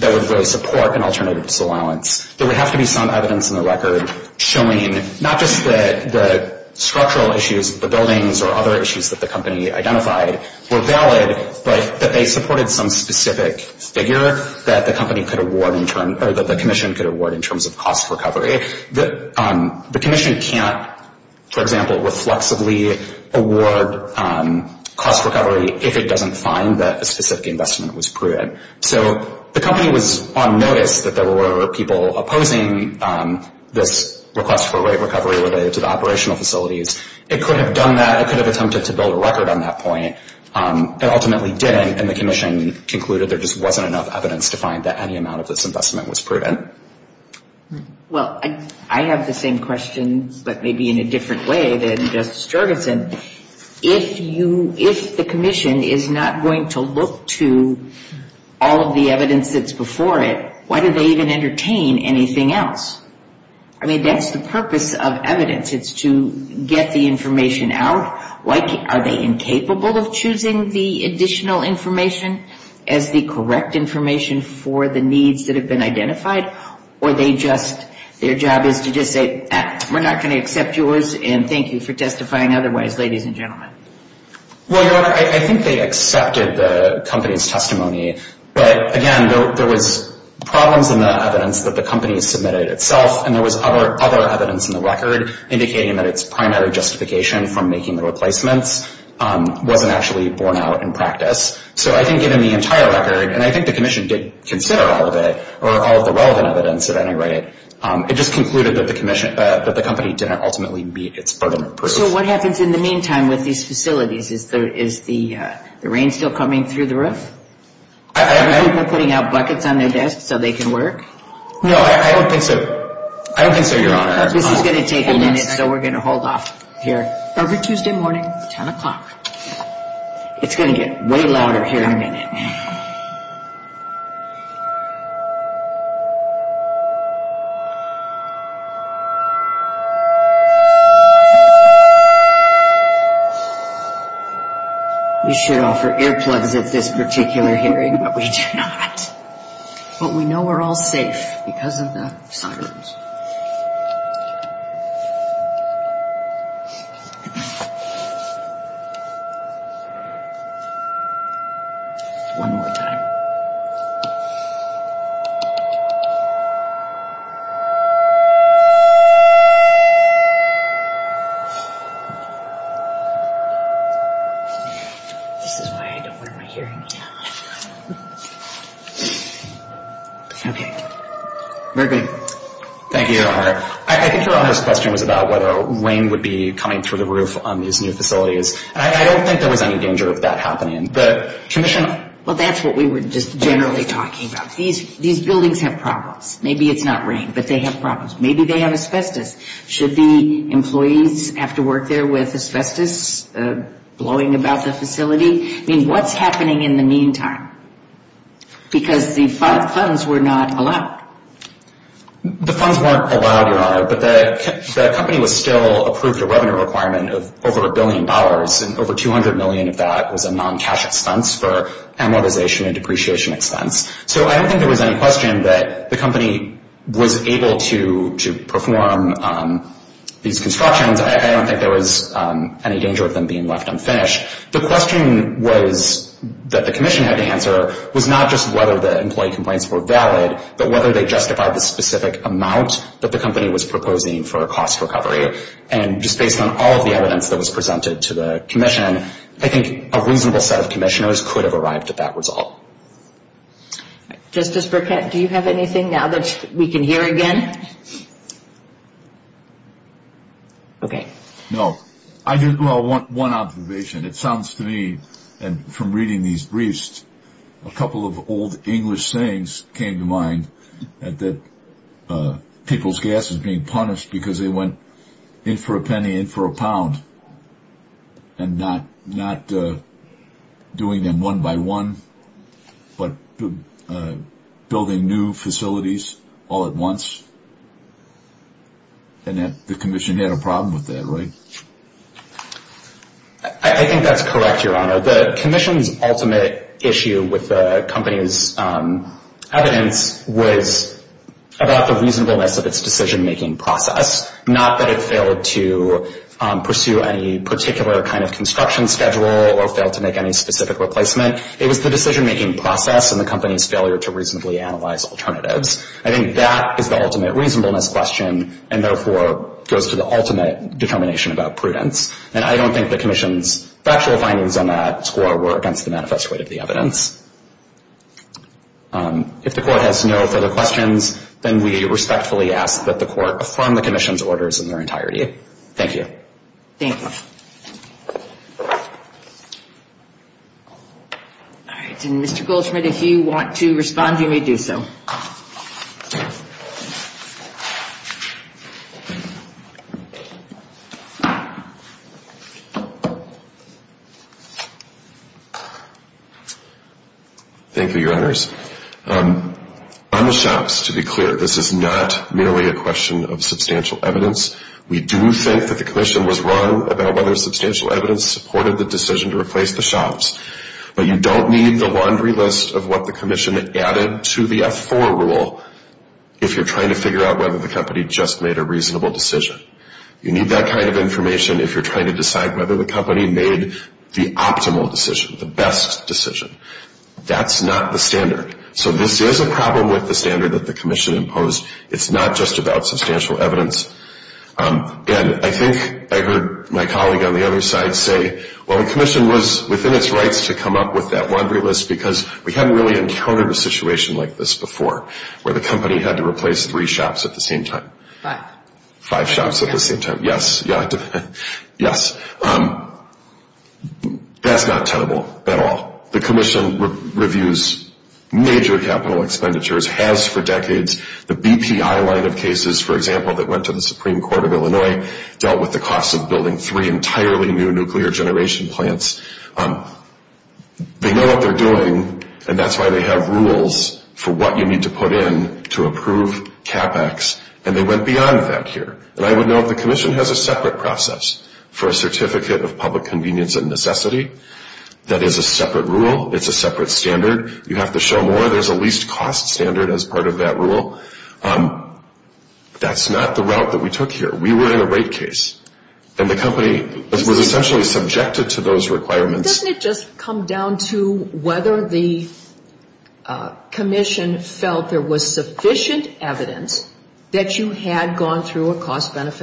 really support an alternative disallowance. There would have to be some evidence in the record showing not just the structural issues of the buildings or other issues that the company identified were valid, but that they supported some specific figure that the Commission could award in terms of cost recovery. The Commission can't, for example, reflexively award cost recovery if it doesn't find that a specific investment was prudent. So the company was on notice that there were people opposing this request for rate recovery related to the operational facilities. It could have done that. It could have attempted to build a record on that point. It ultimately didn't, and the Commission concluded there just wasn't enough evidence to find that any amount of this investment was prudent. Well, I have the same question, but maybe in a different way than Justice Jorgensen. If the Commission is not going to look to all of the evidence that's before it, why do they even entertain anything else? I mean, that's the purpose of evidence. It's to get the information out. Are they incapable of choosing the additional information as the correct information for the needs that have been identified, or their job is to just say, we're not going to accept yours, and thank you for testifying otherwise, ladies and gentlemen. Well, Your Honor, I think they accepted the company's testimony. But, again, there was problems in the evidence that the company submitted itself, and there was other evidence in the record indicating that its primary justification from making the replacements wasn't actually borne out in practice. So I think in the entire record, and I think the Commission did consider all of it, or all of the relevant evidence at any rate, it just concluded that the company didn't ultimately meet its burden of proof. So what happens in the meantime with these facilities? Is the rain still coming through the roof? Are people putting out buckets on their desks so they can work? No, I don't think so, Your Honor. This is going to take a minute, so we're going to hold off here. Every Tuesday morning, 10 o'clock. It's going to get way louder here in a minute. You should offer earplugs at this particular hearing, but we do not. But we know we're all safe because of the sirens. One more time. This is why I don't wear my hearing aid. Okay. Very good. Thank you, Your Honor. I think Your Honor's question was about whether rain would be coming through the roof on these new facilities. I don't think there was any danger of that happening. Well, that's what we were just generally talking about. These buildings have problems. Maybe it's not rain, but they have problems. Maybe they have asbestos. Should the employees have to work there with asbestos blowing about the facility? I mean, what's happening in the meantime? Because the funds were not allowed. The funds weren't allowed, Your Honor, but the company was still approved a revenue requirement of over a billion dollars, and over $200 million of that was a non-cash expense for amortization and depreciation expense. So I don't think there was any question that the company was able to perform these constructions. I don't think there was any danger of them being left unfinished. The question that the commission had to answer was not just whether the employee complaints were valid, but whether they justified the specific amount that the company was proposing for a cost recovery. And just based on all of the evidence that was presented to the commission, I think a reasonable set of commissioners could have arrived at that result. Justice Burkett, do you have anything now that we can hear again? No. Well, one observation. It sounds to me, and from reading these briefs, a couple of old English sayings came to mind, that people's gas is being punished because they went in for a penny, in for a pound, and not doing them one by one, but building new facilities all at once. And the commission had a problem with that, right? I think that's correct, Your Honor. The commission's ultimate issue with the company's evidence was about the reasonableness of its decision-making process, not that it failed to pursue any particular kind of construction schedule or failed to make any specific replacement. It was the decision-making process and the company's failure to reasonably analyze alternatives. I think that is the ultimate reasonableness question and, therefore, goes to the ultimate determination about prudence. And I don't think the commission's factual findings on that score were against the manifest weight of the evidence. If the Court has no further questions, then we respectfully ask that the Court affirm the commission's orders in their entirety. Thank you. Thank you. All right. And, Mr. Goldschmidt, if you want to respond, you may do so. Thank you, Your Honors. On the shops, to be clear, this is not merely a question of substantial evidence. We do think that the commission was wrong about whether substantial evidence supported the decision to replace the shops. But you don't need the laundry list of what the commission added to the F-4 rule if you're trying to figure out whether the company just made a reasonable decision. You need that kind of information if you're trying to decide whether the company made the optimal decision, the best decision. That's not the standard. So this is a problem with the standard that the commission imposed. It's not just about substantial evidence. And I think I heard my colleague on the other side say, well, the commission was within its rights to come up with that laundry list because we hadn't really encountered a situation like this before, where the company had to replace three shops at the same time. Five. Five shops at the same time. Yes. Yes. That's not tenable at all. The commission reviews major capital expenditures, has for decades. The BPI line of cases, for example, that went to the Supreme Court of Illinois, dealt with the cost of building three entirely new nuclear generation plants. They know what they're doing, and that's why they have rules for what you need to put in to approve CapEx. And they went beyond that here. And I would note the commission has a separate process for a Certificate of Public Convenience and Necessity. That is a separate rule. It's a separate standard. You have to show more. There's a least cost standard as part of that rule. That's not the route that we took here. We were in a rate case. And the company was essentially subjected to those requirements. Doesn't it just come down to whether the commission felt there was sufficient evidence that you had gone through a alternative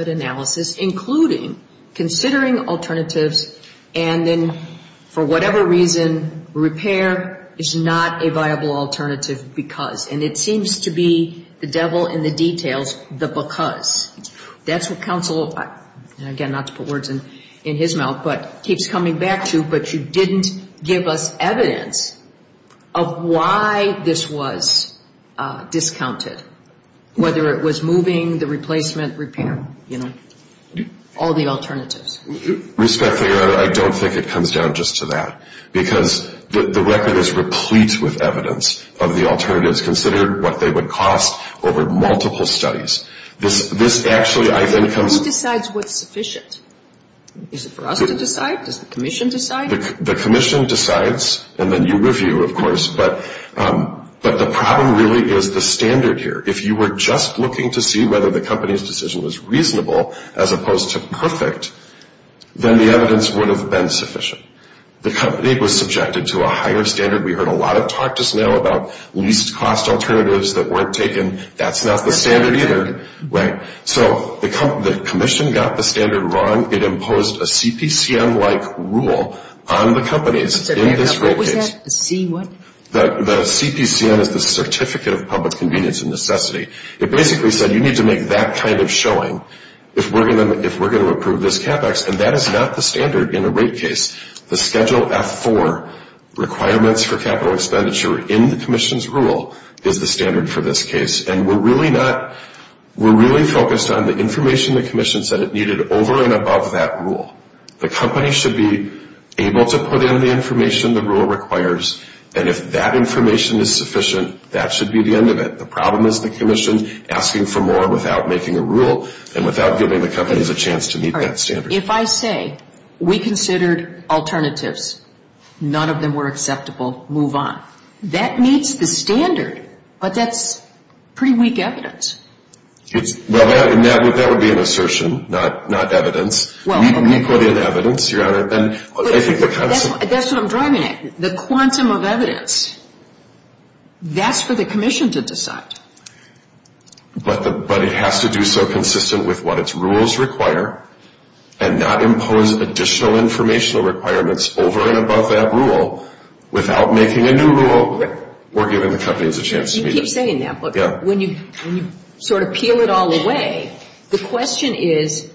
because. And it seems to be the devil in the details, the because. That's what counsel, again, not to put words in his mouth, but keeps coming back to, but you didn't give us evidence of why this was discounted, whether it was moving, the replacement, repair. You know, all the alternatives. Respectfully, I don't think it comes down just to that. Because the record is replete with evidence of the alternatives, considered what they would cost over multiple studies. This actually, I think, comes. Who decides what's sufficient? Is it for us to decide? Does the commission decide? The commission decides, and then you review, of course. But the problem really is the standard here. If you were just looking to see whether the company's decision was reasonable as opposed to perfect, then the evidence would have been sufficient. The company was subjected to a higher standard. We heard a lot of talk just now about least cost alternatives that weren't taken. That's not the standard either. So the commission got the standard wrong. It imposed a CPCM-like rule on the companies in this rate case. The CPCM is the Certificate of Public Convenience and Necessity. It basically said you need to make that kind of showing if we're going to approve this capex. And that is not the standard in a rate case. The Schedule F-4 requirements for capital expenditure in the commission's rule is the standard for this case. And we're really focused on the information the commission said it needed over and above that rule. The company should be able to put in the information the rule requires, and if that information is sufficient, that should be the end of it. The problem is the commission asking for more without making a rule and without giving the companies a chance to meet that standard. If I say we considered alternatives, none of them were acceptable, move on. That meets the standard, but that's pretty weak evidence. That would be an assertion, not evidence. We put in evidence, Your Honor. That's what I'm driving at. The quantum of evidence. That's for the commission to decide. But it has to do so consistent with what its rules require and not impose additional informational requirements over and above that rule without making a new rule or giving the companies a chance to meet it. You keep saying that, but when you sort of peel it all away, the question is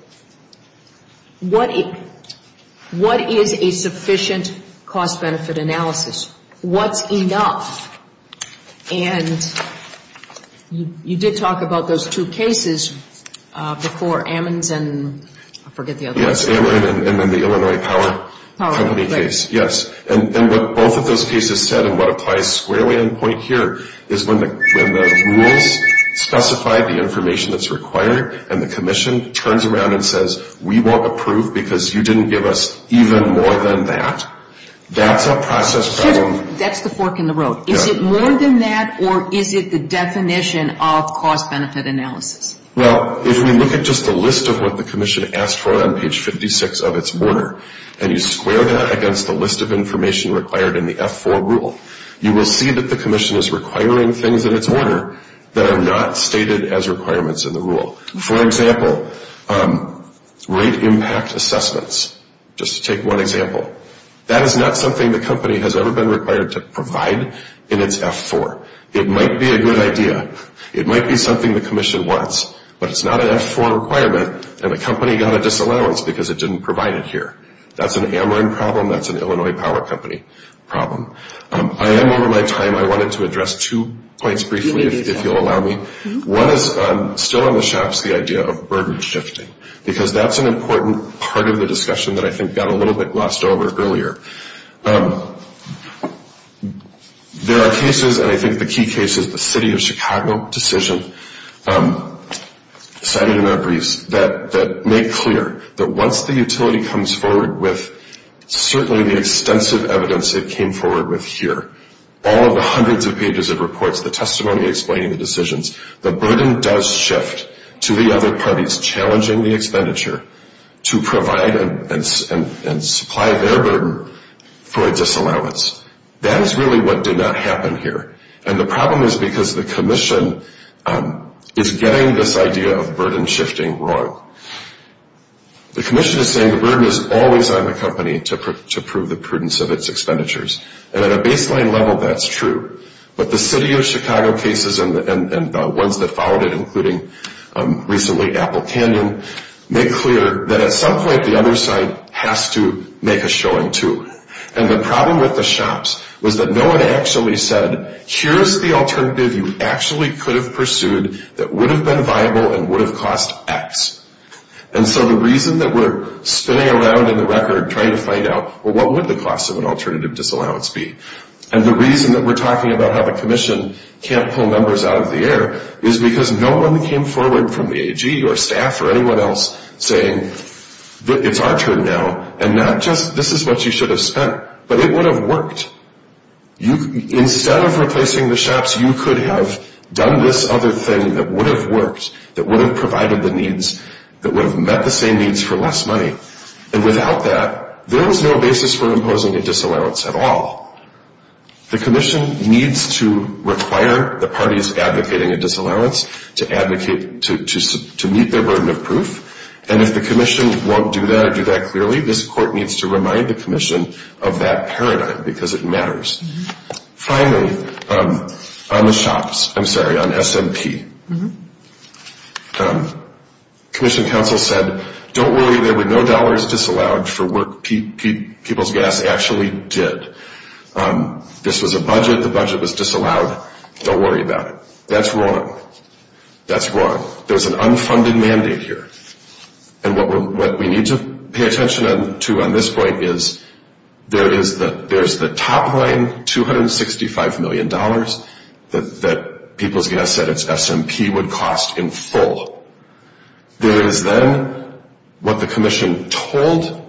what is a sufficient cost-benefit analysis? What's enough? And you did talk about those two cases before Ammons and I forget the other one. Yes, Ammons and then the Illinois Power Company case. Yes. And what both of those cases said and what applies squarely on point here is when the rules specify the information that's required and the commission turns around and says we won't approve because you didn't give us even more than that, that's a process problem. That's the fork in the road. Is it more than that or is it the definition of cost-benefit analysis? Well, if we look at just the list of what the commission asked for on page 56 of its order and you square that against the list of information required in the F-4 rule, you will see that the commission is requiring things in its order that are not stated as requirements in the rule. For example, rate impact assessments, just to take one example. That is not something the company has ever been required to provide in its F-4. It might be a good idea. It might be something the commission wants, but it's not an F-4 requirement and the company got a disallowance because it didn't provide it here. That's an Ammon problem. That's an Illinois Power Company problem. I am over my time. I wanted to address two points briefly if you'll allow me. One is still on the shops, the idea of burden shifting because that's an important part of the discussion that I think got a little bit glossed over earlier. There are cases, and I think the key case is the City of Chicago decision cited in our briefs, that make clear that once the utility comes forward with certainly the extensive evidence it came forward with here, all of the hundreds of pages of reports, the testimony explaining the decisions, the burden does shift to the other parties challenging the expenditure to provide and supply their burden for a disallowance. That is really what did not happen here, and the problem is because the commission is getting this idea of burden shifting wrong. The commission is saying the burden is always on the company to prove the prudence of its expenditures, and at a baseline level that's true, but the City of Chicago cases and the ones that followed it, including recently Apple Canyon, make clear that at some point the other side has to make a showing too. And the problem with the shops was that no one actually said, here's the alternative you actually could have pursued that would have been viable and would have cost X. And so the reason that we're spinning around in the record trying to find out, well, what would the cost of an alternative disallowance be? And the reason that we're talking about how the commission can't pull members out of the air is because no one came forward from the AG or staff or anyone else saying, it's our turn now, and this is what you should have spent. But it would have worked. Instead of replacing the shops, you could have done this other thing that would have worked, that would have provided the needs, that would have met the same needs for less money. And without that, there was no basis for imposing a disallowance at all. The commission needs to require the parties advocating a disallowance to meet their burden of proof. And if the commission won't do that or do that clearly, this court needs to remind the commission of that paradigm because it matters. Finally, on the shops, I'm sorry, on S&P, commission counsel said, don't worry, there were no dollars disallowed for work People's Gas actually did. This was a budget. The budget was disallowed. Don't worry about it. That's wrong. That's wrong. There's an unfunded mandate here. And what we need to pay attention to on this point is there is the top line $265 million that People's Gas said it's S&P would cost in full. There is then what the commission told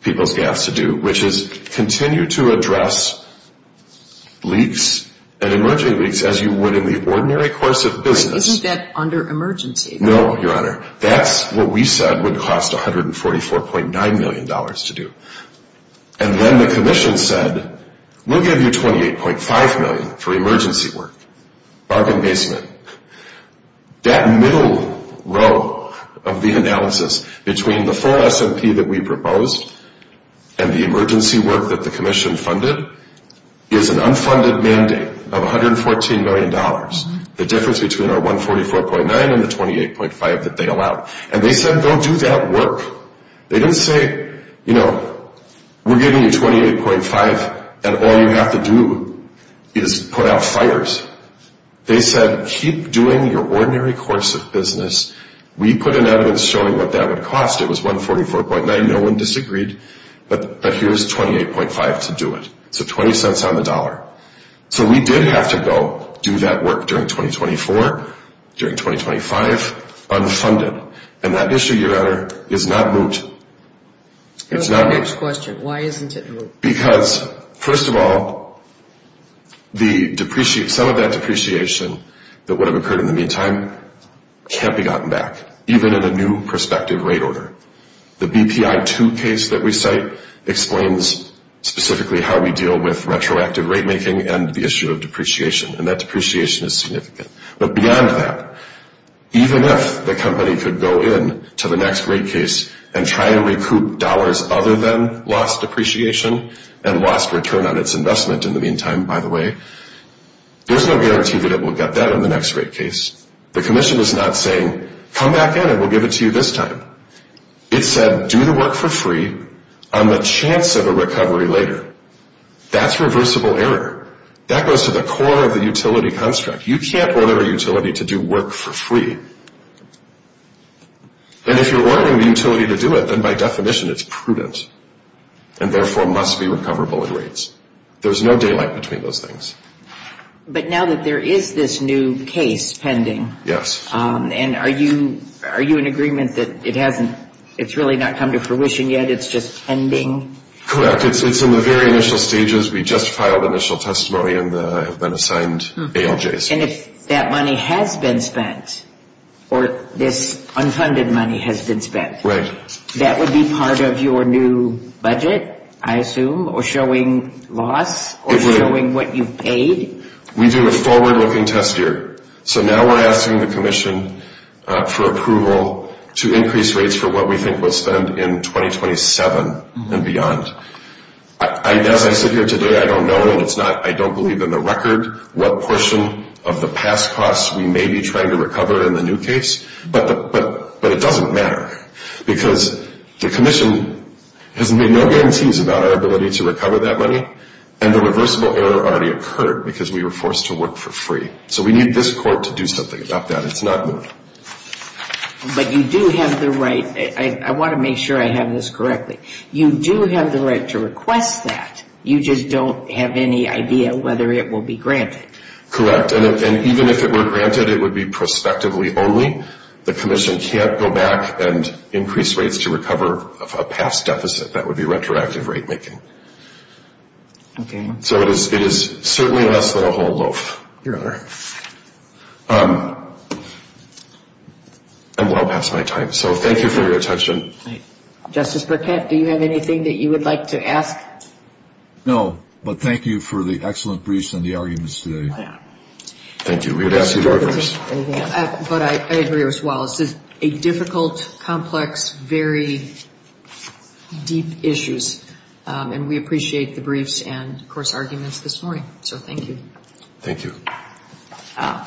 People's Gas to do, which is continue to address leaks and emerging leaks as you would in the ordinary course of business. Isn't that under emergency? No, Your Honor. That's what we said would cost $144.9 million to do. And then the commission said, we'll give you $28.5 million for emergency work, parking basement. That middle row of the analysis between the full S&P that we proposed and the emergency work that the commission funded is an unfunded mandate of $114 million, the difference between our $144.9 and the $28.5 that they allowed. And they said, go do that work. They didn't say, you know, we're giving you $28.5 and all you have to do is put out fires. They said, keep doing your ordinary course of business. We put in evidence showing what that would cost. It was $144.9. No one disagreed. But here's $28.5 to do it. So $0.20 on the dollar. So we did have to go do that work during 2024, during 2025, unfunded. And that issue, Your Honor, is not moot. It's not moot. Next question. Why isn't it moot? Because, first of all, some of that depreciation that would have occurred in the meantime can't be gotten back, even in a new prospective rate order. The BPI-2 case that we cite explains specifically how we deal with retroactive rate making and the issue of depreciation. And that depreciation is significant. But beyond that, even if the company could go in to the next rate case and try to recoup dollars other than lost depreciation and lost return on its investment in the meantime, by the way, there's no guarantee that it will get that in the next rate case. The commission is not saying, come back in and we'll give it to you this time. It said, do the work for free on the chance of a recovery later. That's reversible error. That goes to the core of the utility construct. You can't order a utility to do work for free. And if you're ordering the utility to do it, then by definition it's prudent and therefore must be recoverable at rates. There's no daylight between those things. But now that there is this new case pending, and are you in agreement that it's really not come to fruition yet, it's just pending? Correct. It's in the very initial stages. We just filed initial testimony and have been assigned ALJs. And if that money has been spent, or this unfunded money has been spent, that would be part of your new budget, I assume, or showing loss, or showing what you've paid? We do a forward-looking test here. So now we're asking the commission for approval to increase rates for what we think would spend in 2027 and beyond. As I sit here today, I don't know, and I don't believe in the record, what portion of the past costs we may be trying to recover in the new case. But it doesn't matter. Because the commission has made no guarantees about our ability to recover that money, and the reversible error already occurred because we were forced to work for free. So we need this court to do something about that. It's not me. But you do have the right to, I want to make sure I have this correctly, you do have the right to request that. You just don't have any idea whether it will be granted. Correct. And even if it were granted, it would be prospectively only. The commission can't go back and increase rates to recover a past deficit. That would be retroactive rate making. Okay. So it is certainly less than a whole loaf. Your Honor. I'm well past my time. So thank you for your attention. Justice Burkett, do you have anything that you would like to ask? No. But thank you for the excellent briefs and the arguments today. Thank you. But I agree with Wallace. This is a difficult, complex, very deep issues. And we appreciate the briefs and, of course, arguments this morning. So thank you. Thank you. All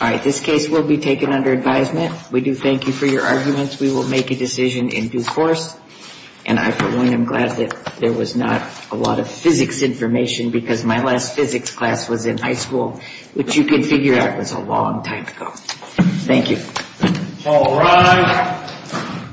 right. This case will be taken under advisement. We do thank you for your arguments. We will make a decision in due course. And I, for one, am glad that there was not a lot of physics information because my last physics class was in high school, which you can figure out was a long time ago. Thank you. All rise.